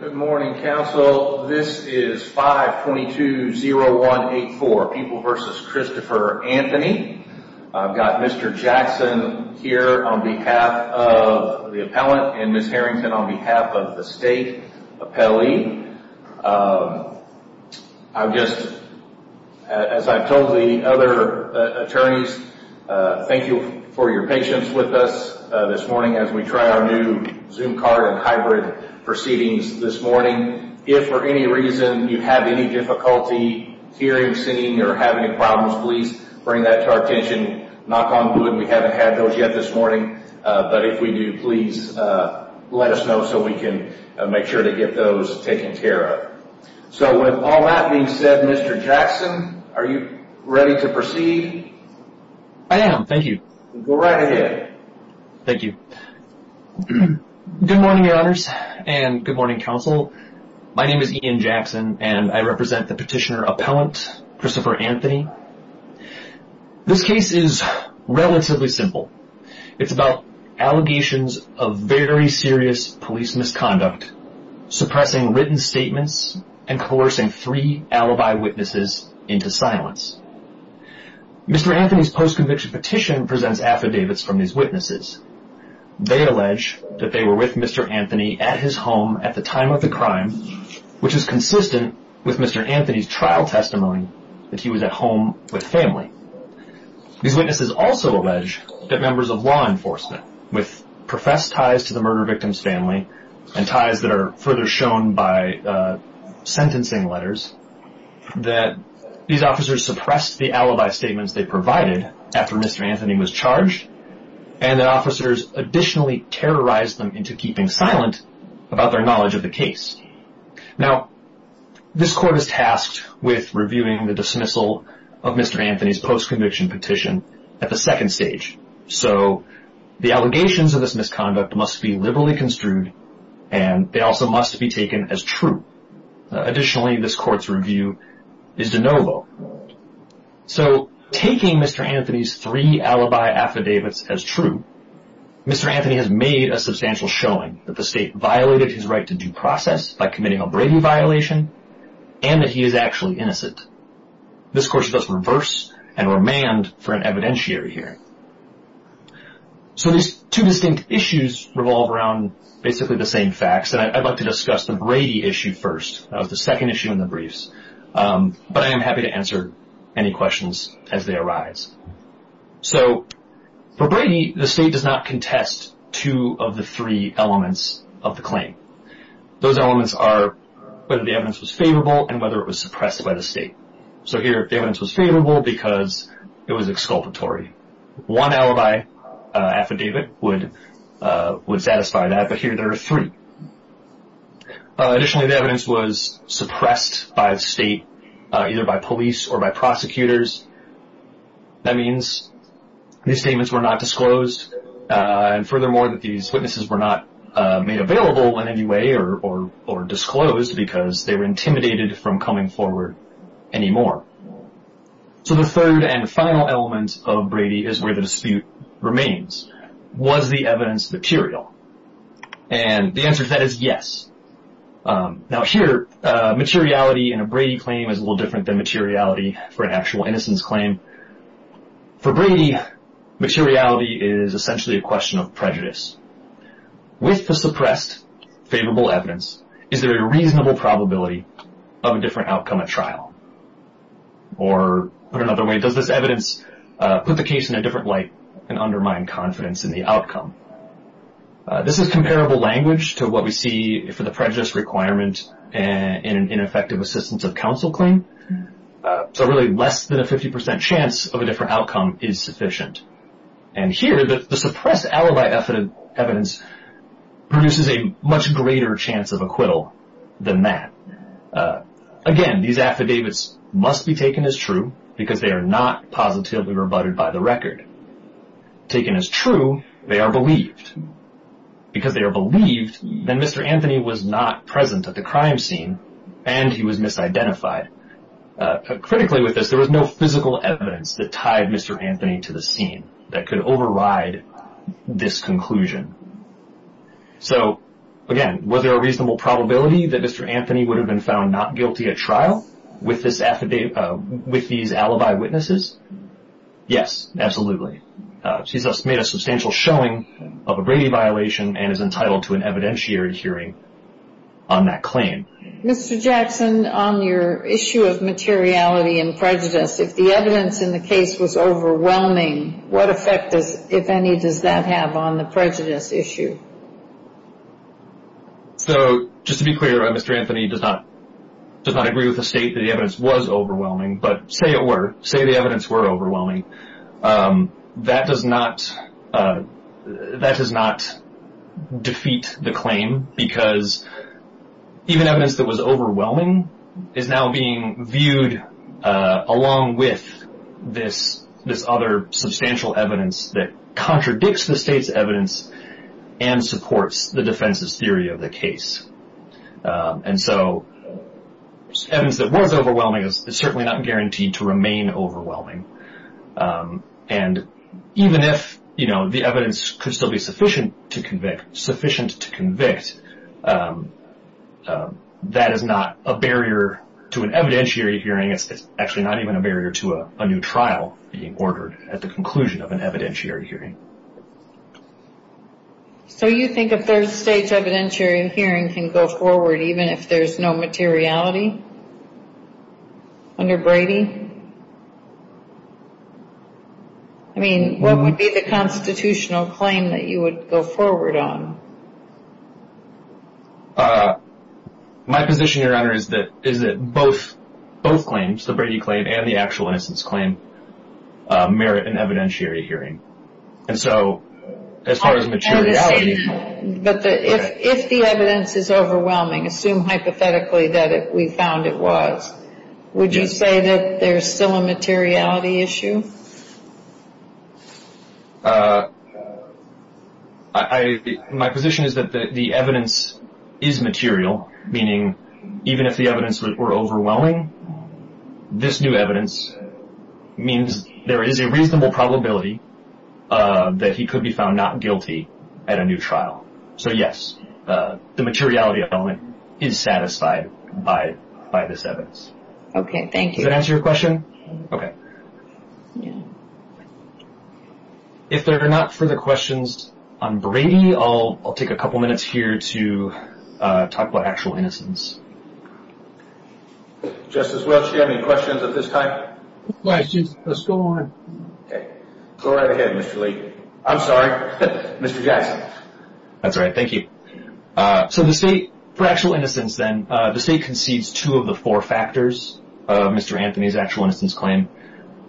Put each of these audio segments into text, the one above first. Good morning, counsel. This is 522-0184, People v. Christopher Anthony. I've got Mr. Jackson here on behalf of the appellant and Ms. Harrington on behalf of the state appellee. I'm just, as I've told the other attorneys, thank you for your patience with us this morning as we try our new Zoom card and hybrid proceedings this morning. If for any reason you have any difficulty hearing, seeing, or have any problems, please bring that to our attention. Knock on wood, we haven't had those yet this morning. But if we do, please let us know so we can make sure to get those taken care of. So with all that being said, Mr. Jackson, are you ready to proceed? I am, thank you. Go right ahead. Thank you. Good morning, your honors, and good morning, counsel. My name is Ian Jackson, and I represent the petitioner appellant, Christopher Anthony. This case is relatively simple. It's about allegations of very serious police misconduct, suppressing written statements, and coercing three alibi witnesses into silence. Mr. Anthony's post-conviction petition presents affidavits from these witnesses. They allege that they were with Mr. Anthony at his home at the time of the crime, which is consistent with Mr. Anthony's trial testimony that he was at home with family. These witnesses also allege that members of law enforcement with professed ties to the murder victim's family and ties that are further shown by sentencing letters, that these officers suppressed the alibi statements they provided after Mr. Anthony was charged, and that officers additionally terrorized them into keeping silent about their knowledge of the case. Now, this court is tasked with reviewing the dismissal of Mr. Anthony's post-conviction petition at the second stage. So, the allegations of this misconduct must be liberally construed, and they also must be taken as true. Additionally, this court's review is de novo. So, taking Mr. Anthony's three alibi affidavits as true, Mr. Anthony has made a substantial showing that the state violated his right to due process by committing a Brady violation, and that he is actually innocent. This court should thus reverse and remand for an evidentiary hearing. So, these two distinct issues revolve around basically the same facts, and I'd like to discuss the Brady issue first. That was the second issue in the briefs, but I am happy to answer any questions as they arise. So, for Brady, the state does not contest two of the three elements of the claim. Those elements are whether the evidence was favorable and whether it was suppressed by the state. So, here the evidence was favorable because it was exculpatory. One alibi affidavit would satisfy that, but here there are three. Additionally, the evidence was suppressed by the state, either by police or by prosecutors. That means these statements were not disclosed, and furthermore, that these witnesses were not made available in any way or disclosed because they were intimidated from coming forward anymore. So, the third and final element of Brady is where the dispute remains. Was the evidence material? And the answer to that is yes. Now, here, materiality in a Brady claim is a little different than materiality for an actual innocence claim. For Brady, materiality is essentially a question of prejudice. With the suppressed favorable evidence, is there a reasonable probability of a different outcome at trial? Or, put another way, does this evidence put the case in a different light and undermine confidence in the outcome? This is comparable language to what we see for the prejudice requirement in an effective assistance of counsel claim. So, really, less than a 50% chance of a different outcome is sufficient. And here, the suppressed alibi evidence produces a much greater chance of acquittal than that. Again, these affidavits must be taken as true because they are not positively rebutted by the record. Taken as true, they are believed. Because they are believed, then Mr. Anthony was not present at the crime scene, and he was misidentified. Critically with this, there was no physical evidence that tied Mr. Anthony to the scene that could override this conclusion. So, again, was there a reasonable probability that Mr. Anthony would have been found not guilty at trial with these alibi witnesses? Yes, absolutely. He's made a substantial showing of a Brady violation and is entitled to an evidentiary hearing on that claim. Mr. Jackson, on your issue of materiality and prejudice, if the evidence in the case was overwhelming, what effect, if any, does that have on the prejudice issue? So, just to be clear, Mr. Anthony does not agree with the state that the evidence was overwhelming. But say it were, say the evidence were overwhelming, that does not defeat the claim because even evidence that was overwhelming is now being viewed along with this other substantial evidence that contradicts the state's evidence and supports the defense's theory of the case. And so, evidence that was overwhelming is certainly not guaranteed to remain overwhelming. And even if the evidence could still be sufficient to convict, sufficient to convict, that is not a barrier to an evidentiary hearing. It's actually not even a barrier to a new trial being ordered at the conclusion of an evidentiary hearing. So, you think a third-stage evidentiary hearing can go forward even if there's no materiality under Brady? I mean, what would be the constitutional claim that you would go forward on? My position, Your Honor, is that both claims, the Brady claim and the actual innocence claim, merit an evidentiary hearing. And so, as far as materiality... But if the evidence is overwhelming, assume hypothetically that we found it was, would you say that there's still a materiality issue? My position is that the evidence is material, meaning even if the evidence were overwhelming, this new evidence means there is a reasonable probability that he could be found not guilty at a new trial. So, yes, the materiality element is satisfied by this evidence. Okay, thank you. Does that answer your question? Okay. If there are not further questions on Brady, I'll take a couple minutes here to talk about actual innocence. Justice Welch, do you have any questions at this time? No questions. Let's go on. Okay. Go right ahead, Mr. Lee. I'm sorry. Mr. Jackson. That's all right. Thank you. So, the State, for actual innocence, then, the State concedes two of the four factors of Mr. Anthony's actual innocence claim.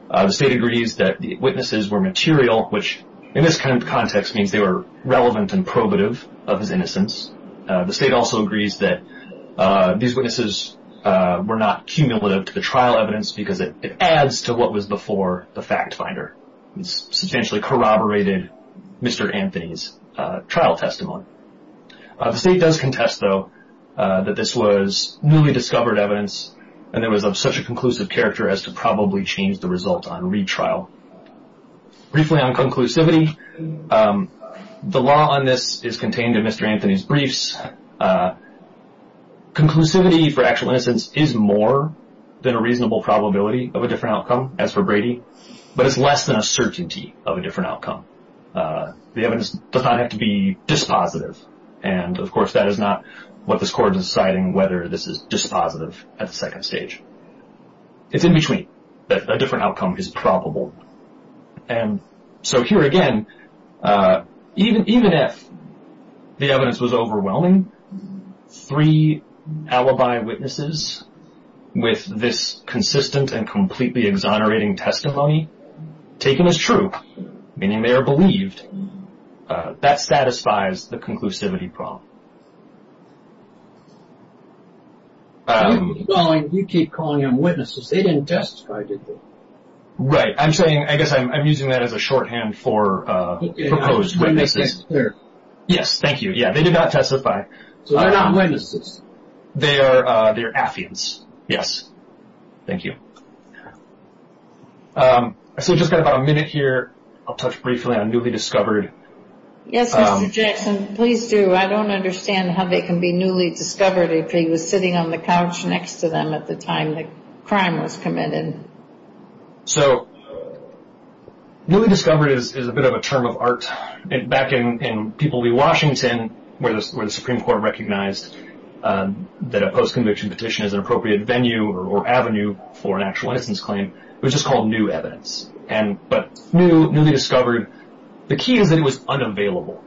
The State agrees that the witnesses were material, which in this kind of context means they were relevant and probative of his innocence. The State also agrees that these witnesses were not cumulative to the trial evidence because it adds to what was before the fact finder. It substantially corroborated Mr. Anthony's trial testimony. The State does contest, though, that this was newly discovered evidence, and it was of such a conclusive character as to probably change the result on retrial. Briefly on conclusivity, the law on this is contained in Mr. Anthony's briefs. Conclusivity for actual innocence is more than a reasonable probability of a different outcome, as for Brady, but it's less than a certainty of a different outcome. The evidence does not have to be dispositive. And, of course, that is not what this Court is deciding, whether this is dispositive at the second stage. It's in between that a different outcome is probable. And so here again, even if the evidence was overwhelming, three alibi witnesses with this consistent and completely exonerating testimony taken as true, meaning they are believed, that satisfies the conclusivity problem. You keep calling them witnesses. They didn't testify, did they? Right. I'm saying, I guess I'm using that as a shorthand for proposed witnesses. Yes. Thank you. Yeah, they did not testify. So they're not witnesses. They are. They're affiance. Yes. Thank you. So just got about a minute here. I'll touch briefly on newly discovered. Yes, Mr. Jackson, please do. I don't understand how they can be newly discovered if he was sitting on the couch next to them at the time the crime was committed. So newly discovered is a bit of a term of art. Back in people v. Washington, where the Supreme Court recognized that a post-conviction petition is an appropriate venue or avenue for an actual innocence claim, it was just called new evidence. But new, newly discovered, the key is that it was unavailable.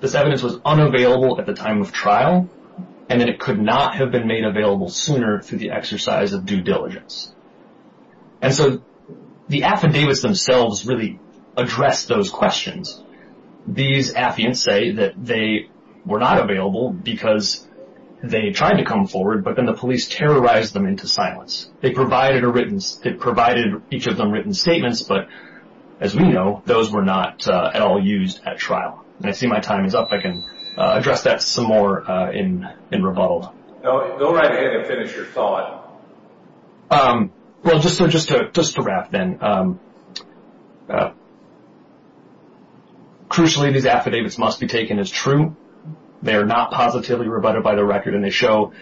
This evidence was unavailable at the time of trial, and that it could not have been made available sooner through the exercise of due diligence. And so the affidavits themselves really address those questions. These affiants say that they were not available because they tried to come forward, but then the police terrorized them into silence. It provided each of them written statements, but as we know, those were not at all used at trial. And I see my time is up. I can address that some more in rebuttal. Go right ahead and finish your thought. Well, just to wrap then. Crucially, these affidavits must be taken as true. They are not positively rebutted by the record, and they show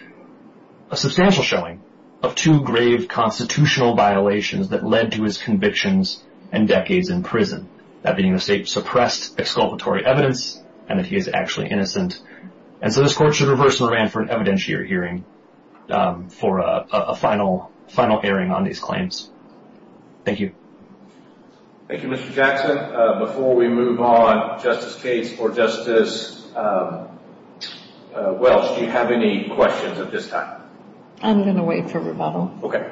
a substantial showing of two grave constitutional violations that led to his convictions and decades in prison, that being the state-suppressed exculpatory evidence and that he is actually innocent. And so this Court should reverse and remand for an evidentiary hearing for a final airing on these claims. Thank you. Thank you, Mr. Jackson. Before we move on, Justice Cates or Justice Welsh, do you have any questions at this time? I'm going to wait for rebuttal. Okay.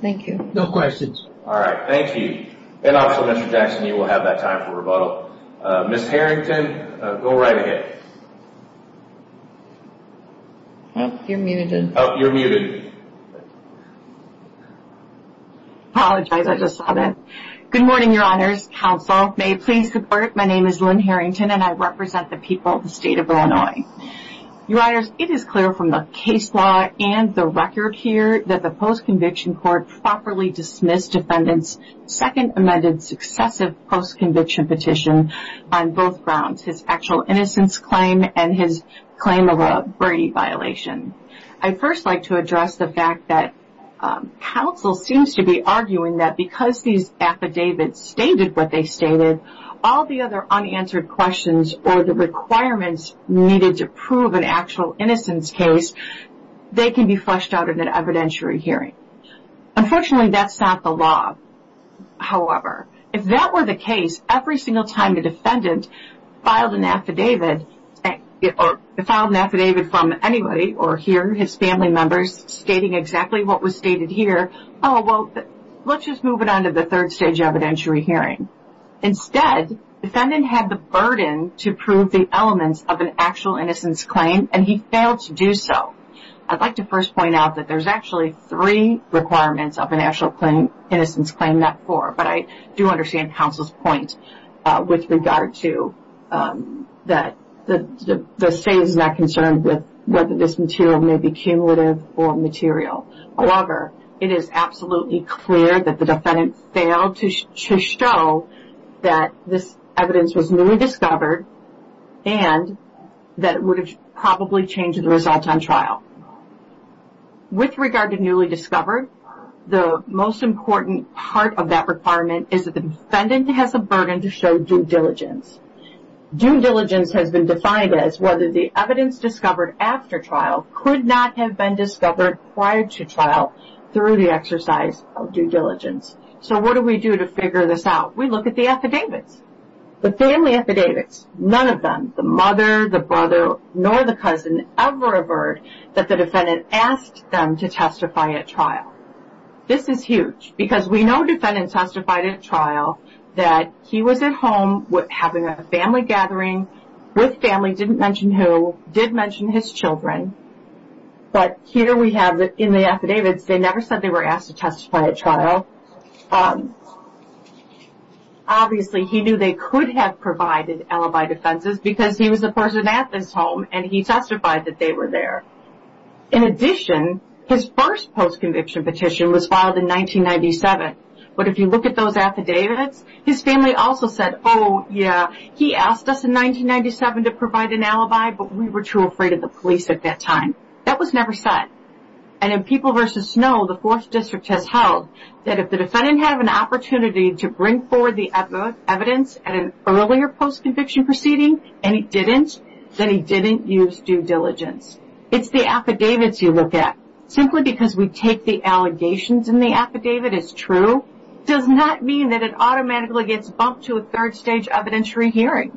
Thank you. No questions. All right. Thank you. And also, Mr. Jackson, you will have that time for rebuttal. Ms. Harrington, go right ahead. Oh, you're muted. Oh, you're muted. Apologize. I just saw that. Good morning, Your Honors. Counsel, may it please support. My name is Lynn Harrington, and I represent the people of the State of Illinois. Your Honors, it is clear from the case law and the record here that the post-conviction court properly dismissed defendant's second amended successive post-conviction petition on both grounds, his actual innocence claim and his claim of a Brady violation. I'd first like to address the fact that counsel seems to be arguing that because these affidavits stated what they stated, all the other unanswered questions or the requirements needed to prove an actual innocence case, they can be fleshed out in an evidentiary hearing. Unfortunately, that's not the law. However, if that were the case, every single time the defendant filed an affidavit or filed an affidavit from anybody or hear his family members stating exactly what was stated here, oh, well, let's just move it on to the third stage evidentiary hearing. Instead, defendant had the burden to prove the elements of an actual innocence claim, and he failed to do so. I'd like to first point out that there's actually three requirements of an actual innocence claim, not four, but I do understand counsel's point with regard to that the state is not concerned with whether this material may be cumulative or material. However, it is absolutely clear that the defendant failed to show that this evidence was newly discovered and that it would have probably changed the results on trial. With regard to newly discovered, the most important part of that requirement is that the defendant has a burden to show due diligence. Due diligence has been defined as whether the evidence discovered after trial could not have been discovered prior to trial through the exercise of due diligence. So what do we do to figure this out? We look at the affidavits, the family affidavits. None of them, the mother, the brother, nor the cousin ever averred that the defendant asked them to testify at trial. This is huge because we know defendant testified at trial that he was at home having a family gathering with family, didn't mention who, did mention his children, but here we have in the affidavits, they never said they were asked to testify at trial. Obviously, he knew they could have provided alibi defenses because he was the person at this home and he testified that they were there. In addition, his first post-conviction petition was filed in 1997, but if you look at those affidavits, his family also said, oh, yeah, he asked us in 1997 to provide an alibi, but we were too afraid of the police at that time. That was never said. And in People v. Snow, the 4th District has held that if the defendant had an opportunity to bring forward the evidence at an earlier post-conviction proceeding and he didn't, then he didn't use due diligence. It's the affidavits you look at. Simply because we take the allegations in the affidavit as true does not mean that it automatically gets bumped to a third-stage evidentiary hearing.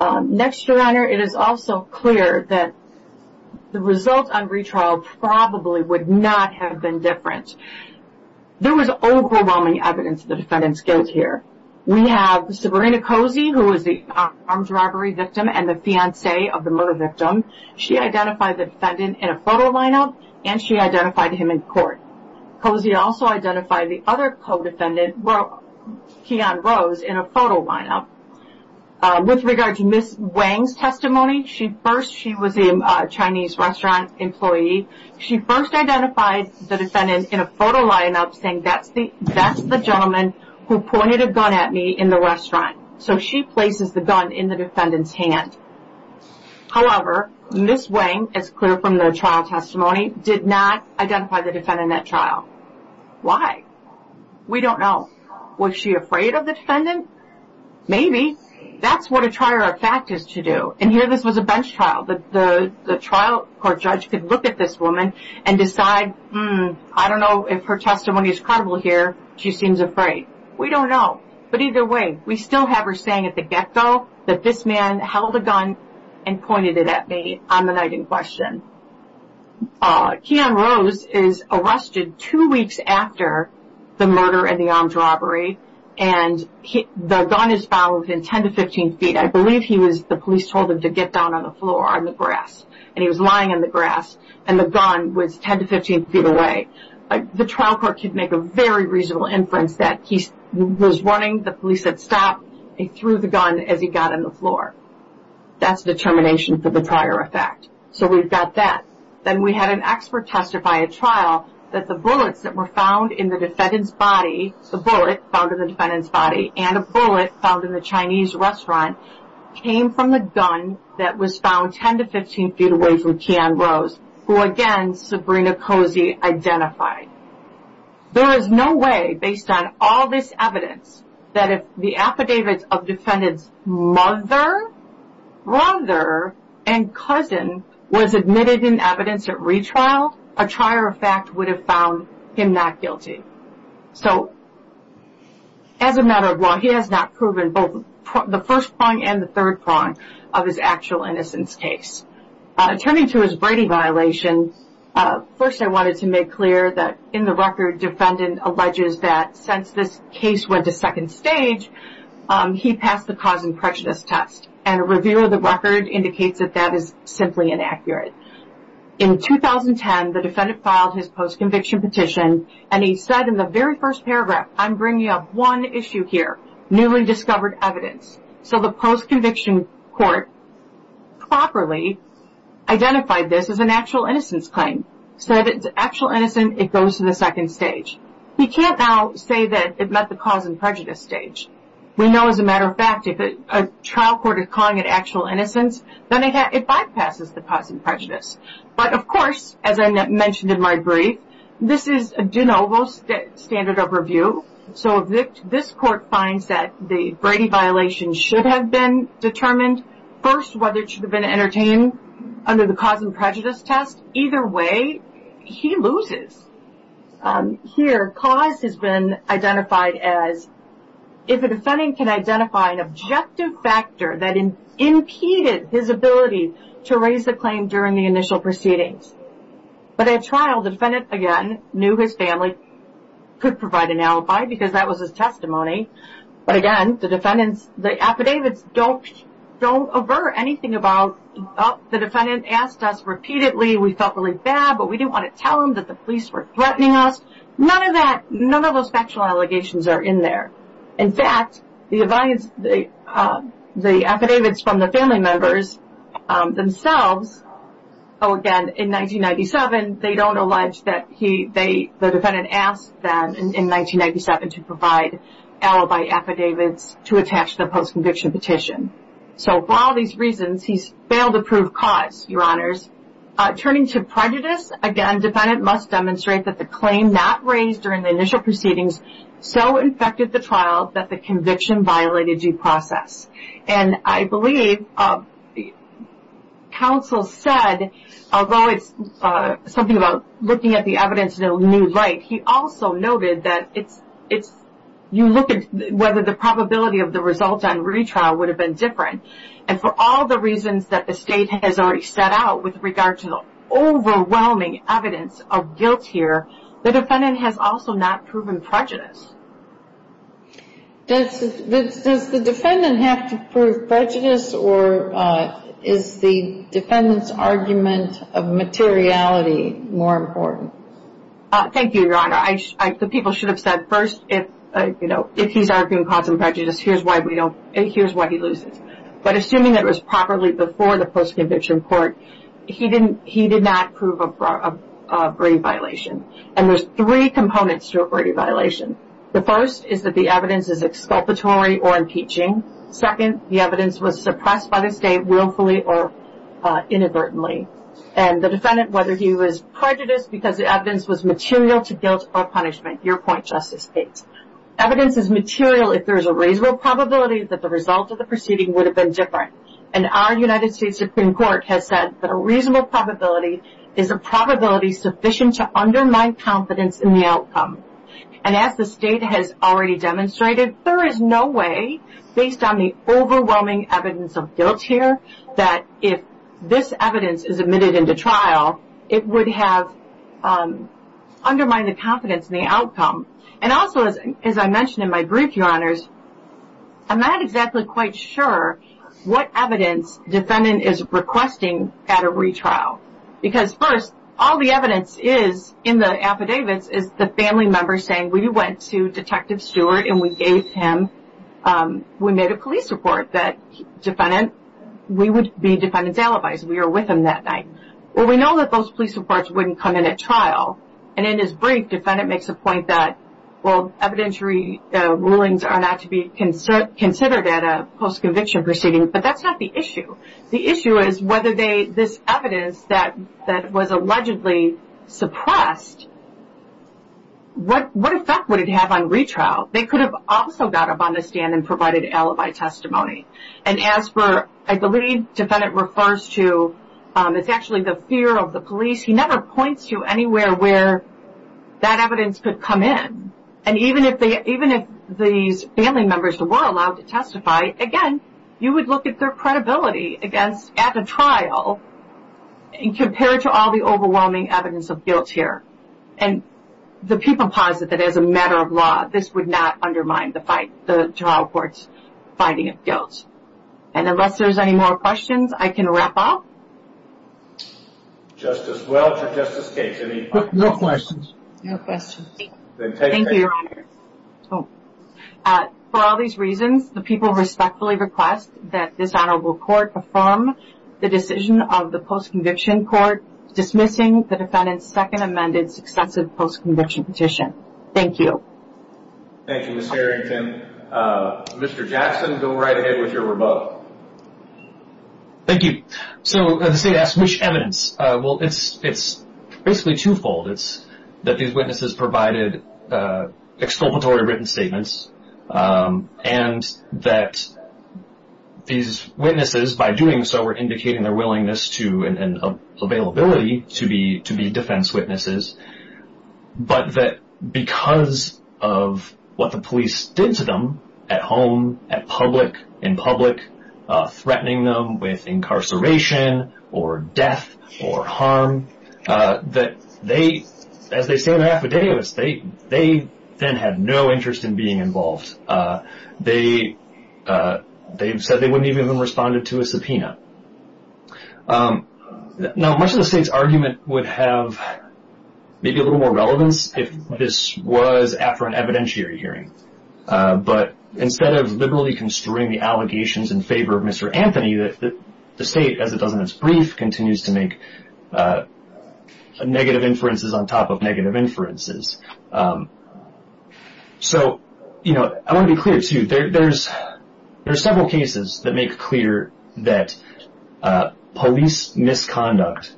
Next, Your Honor, it is also clear that the result on retrial probably would not have been different. There was overwhelming evidence that the defendant's guilt here. We have Sabrina Cozy, who was the arms robbery victim and the fiancé of the murder victim. She identified the defendant in a photo lineup and she identified him in court. Cozy also identified the other co-defendant, Keon Rose, in a photo lineup. With regard to Ms. Wang's testimony, she first, she was a Chinese restaurant employee, she first identified the defendant in a photo lineup saying, that's the gentleman who pointed a gun at me in the restaurant. However, Ms. Wang, as clear from the trial testimony, did not identify the defendant at trial. Why? We don't know. Was she afraid of the defendant? Maybe. That's what a trier of fact is to do. And here this was a bench trial. The trial court judge could look at this woman and decide, I don't know if her testimony is credible here, she seems afraid. We don't know. But either way, we still have her saying at the get-go that this man held a gun and pointed it at me on the night in question. Keon Rose is arrested two weeks after the murder and the arms robbery and the gun is found within 10 to 15 feet. I believe he was, the police told him to get down on the floor on the grass and he was lying on the grass and the gun was 10 to 15 feet away. The trial court could make a very reasonable inference that he was running, the police said stop, he threw the gun as he got on the floor. That's determination for the trier of fact. So we've got that. Then we had an expert testify at trial that the bullets that were found in the defendant's body, a bullet found in the defendant's body and a bullet found in the Chinese restaurant, came from the gun that was found 10 to 15 feet away from Keon Rose, who, again, Sabrina Cozy identified. There is no way, based on all this evidence, that if the affidavits of defendant's mother, brother, and cousin was admitted in evidence at retrial, a trier of fact would have found him not guilty. So as a matter of law, he has not proven both the first prong and the third prong of his actual innocence case. Turning to his Brady violation, first I wanted to make clear that in the record, defendant alleges that since this case went to second stage, he passed the cause and prejudice test. And a review of the record indicates that that is simply inaccurate. In 2010, the defendant filed his post-conviction petition, and he said in the very first paragraph, I'm bringing up one issue here, newly discovered evidence. So the post-conviction court properly identified this as an actual innocence claim. So if it's actual innocence, it goes to the second stage. We can't now say that it met the cause and prejudice stage. We know, as a matter of fact, if a trial court is calling it actual innocence, then it bypasses the cause and prejudice. But, of course, as I mentioned in my brief, this is a de novo standard of review. So if this court finds that the Brady violation should have been determined, first whether it should have been entertained under the cause and prejudice test, either way, he loses. Here, cause has been identified as if a defendant can identify an objective factor that impeded his ability to raise the claim during the initial proceedings. But at trial, the defendant, again, knew his family could provide an alibi because that was his testimony. But, again, the defendants, the affidavits don't avert anything about, oh, the defendant asked us repeatedly, we felt really bad, but we didn't want to tell him that the police were threatening us. None of that, none of those factual allegations are in there. In fact, the affidavits from the family members themselves, oh, again, in 1997, they don't allege that the defendant asked them in 1997 to provide alibi affidavits to attach the post-conviction petition. So for all these reasons, he's failed to prove cause, Your Honors. Turning to prejudice, again, defendant must demonstrate that the claim not raised during the initial proceedings so infected the trial that the conviction violated due process. And I believe counsel said, although it's something about looking at the evidence in a new light, he also noted that you look at whether the probability of the result on retrial would have been different. And for all the reasons that the State has already set out with regard to the overwhelming evidence of guilt here, the defendant has also not proven prejudice. Does the defendant have to prove prejudice or is the defendant's argument of materiality more important? Thank you, Your Honor. The people should have said first, if he's arguing cause and prejudice, here's why he loses. But assuming it was properly before the post-conviction court, he did not prove a brave violation. And there's three components to a brave violation. The first is that the evidence is exculpatory or impeaching. Second, the evidence was suppressed by the State willfully or inadvertently. And the defendant, whether he was prejudiced because the evidence was material to guilt or punishment, your point, Justice Gates. Evidence is material if there is a reasonable probability that the result of the proceeding would have been different. And our United States Supreme Court has said that a reasonable probability is a probability sufficient to undermine confidence in the outcome. And as the State has already demonstrated, there is no way based on the overwhelming evidence of guilt here that if this evidence is admitted into trial, it would have undermined the confidence in the outcome. I'm not exactly quite sure what evidence defendant is requesting at a retrial. Because first, all the evidence is in the affidavits is the family member saying, we went to Detective Stewart and we gave him, we made a police report that defendant, we would be defendant's alibis, we were with him that night. Well, we know that those police reports wouldn't come in at trial. And in his brief, defendant makes a point that, well, evidentiary rulings are not to be considered at a post-conviction proceeding. But that's not the issue. The issue is whether they, this evidence that was allegedly suppressed, what effect would it have on retrial? They could have also got up on the stand and provided alibi testimony. And as for, I believe defendant refers to, it's actually the fear of the police. He never points to anywhere where that evidence could come in. And even if these family members were allowed to testify, again, you would look at their credibility at a trial compared to all the overwhelming evidence of guilt here. And the people posit that as a matter of law, this would not undermine the trial court's finding of guilt. And unless there's any more questions, I can wrap up. Justice Welch or Justice Gates, any final comments? No questions. No questions. Thank you, Your Honor. For all these reasons, the people respectfully request that this honorable court affirm the decision of the post-conviction court dismissing the defendant's second amended successive post-conviction petition. Thank you. Thank you, Ms. Harrington. Mr. Jackson, go right ahead with your rebuttal. Thank you. So the state asks, which evidence? Well, it's basically twofold. It's that these witnesses provided exculpatory written statements and that these witnesses, by doing so, were indicating their willingness and availability to be defense witnesses, but that because of what the police did to them at home, at public, in public, threatening them with incarceration or death or harm, that they, as they say in their affidavits, they then had no interest in being involved. They said they wouldn't even have responded to a subpoena. Now, much of the state's argument would have maybe a little more relevance if this was after an evidentiary hearing. But instead of liberally construing the allegations in favor of Mr. Anthony, the state, as it does in its brief, continues to make negative inferences on top of negative inferences. So, you know, I want to be clear, too. There are several cases that make clear that police misconduct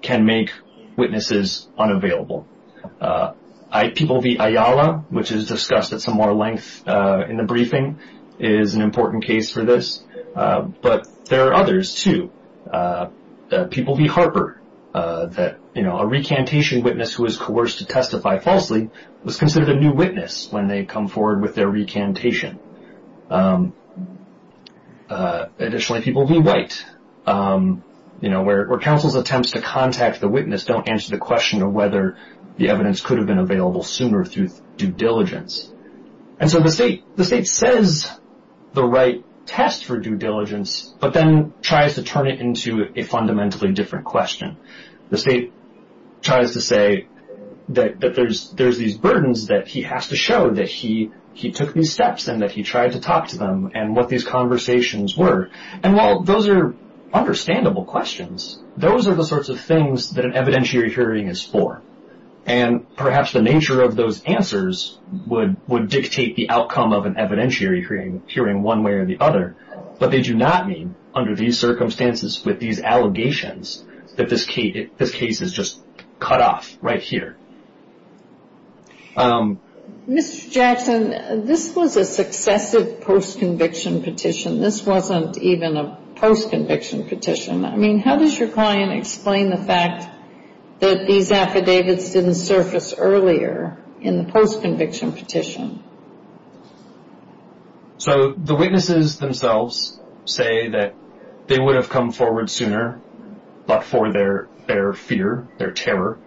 can make witnesses unavailable. People v. Ayala, which is discussed at some more length in the briefing, is an important case for this. But there are others, too. People v. Harper, that, you know, a recantation witness who was coerced to testify falsely was considered a new witness when they come forward with their recantation. Additionally, people v. White, you know, where counsel's attempts to contact the witness don't answer the question of whether the evidence could have been available sooner through due diligence. And so the state says the right test for due diligence, but then tries to turn it into a fundamentally different question. The state tries to say that there's these burdens that he has to show, that he took these steps and that he tried to talk to them, and what these conversations were. And while those are understandable questions, those are the sorts of things that an evidentiary hearing is for. And perhaps the nature of those answers would dictate the outcome of an evidentiary hearing one way or the other. But they do not mean, under these circumstances with these allegations, that this case is just cut off right here. Mr. Jackson, this was a successive post-conviction petition. This wasn't even a post-conviction petition. I mean, how does your client explain the fact that these affidavits didn't surface earlier in the post-conviction petition? So the witnesses themselves say that they would have come forward sooner, but for their fear, their terror.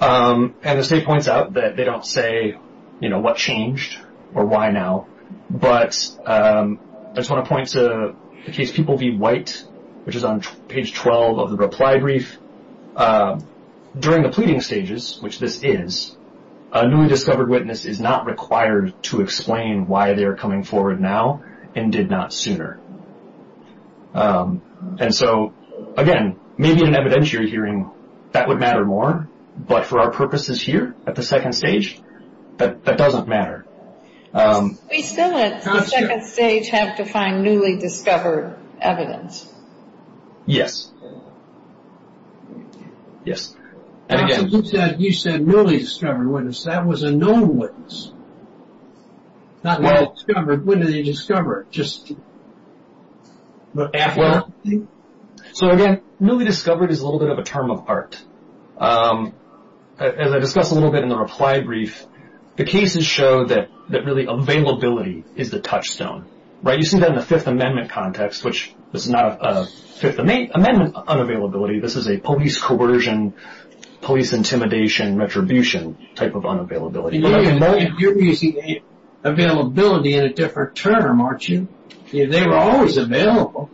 And the state points out that they don't say, you know, what changed or why now. But I just want to point to the case People v. White, which is on page 12 of the reply brief. During the pleading stages, which this is, a newly discovered witness is not required to explain why they are coming forward now and did not sooner. And so, again, maybe in an evidentiary hearing that would matter more, but for our purposes here at the second stage, that doesn't matter. We still at the second stage have to find newly discovered evidence. Yes. Yes. You said newly discovered witness. That was a known witness. Not newly discovered. When did they discover it? Just after? So, again, newly discovered is a little bit of a term of art. As I discussed a little bit in the reply brief, the cases show that really availability is the touchstone. Right? You see that in the Fifth Amendment context, which is not a Fifth Amendment unavailability. This is a police coercion, police intimidation, retribution type of unavailability. You're using availability in a different term, aren't you? They were always available,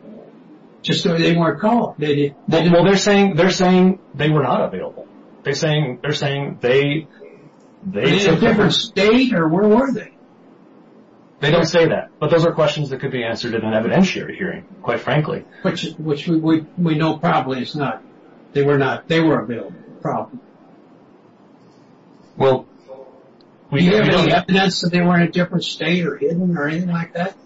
just so they weren't caught. They're saying they were not available. They're saying they were in a different state or where were they? They don't say that, but those are questions that could be answered in an evidentiary hearing, quite frankly. Which we know probably is not. They were not. They were available, probably. Do you have evidence that they were in a different state or hidden or anything like that?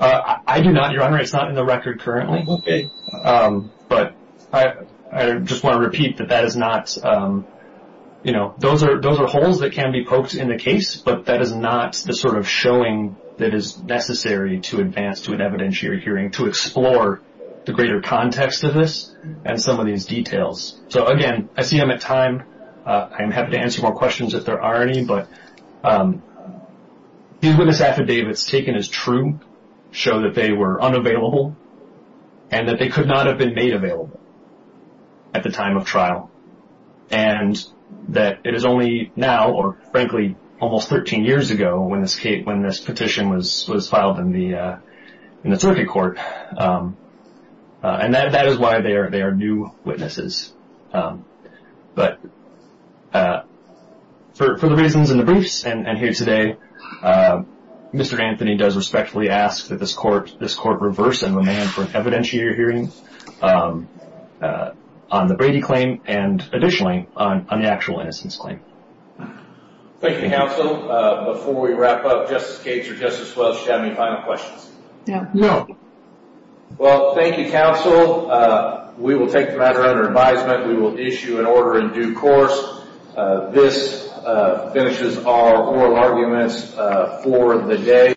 I do not, Your Honor. It's not in the record currently. Okay. But I just want to repeat that that is not, you know, those are holes that can be poked in the case, but that is not the sort of showing that is necessary to advance to an evidentiary hearing to explore the greater context of this and some of these details. So, again, I see I'm at time. I'm happy to answer more questions if there are any, but these witness affidavits taken as true show that they were unavailable and that they could not have been made available at the time of trial and that it is only now or, frankly, almost 13 years ago when this petition was filed in the circuit court, and that is why they are new witnesses. But for the reasons in the briefs and here today, Mr. Anthony does respectfully ask that this court reverse and remand for an evidentiary hearing on the Brady claim and additionally on the actual innocence claim. Thank you, counsel. Before we wrap up, Justice Gates or Justice Welch, do you have any final questions? No. No. Well, thank you, counsel. We will take the matter under advisement. We will issue an order in due course. This finishes our oral arguments for the day.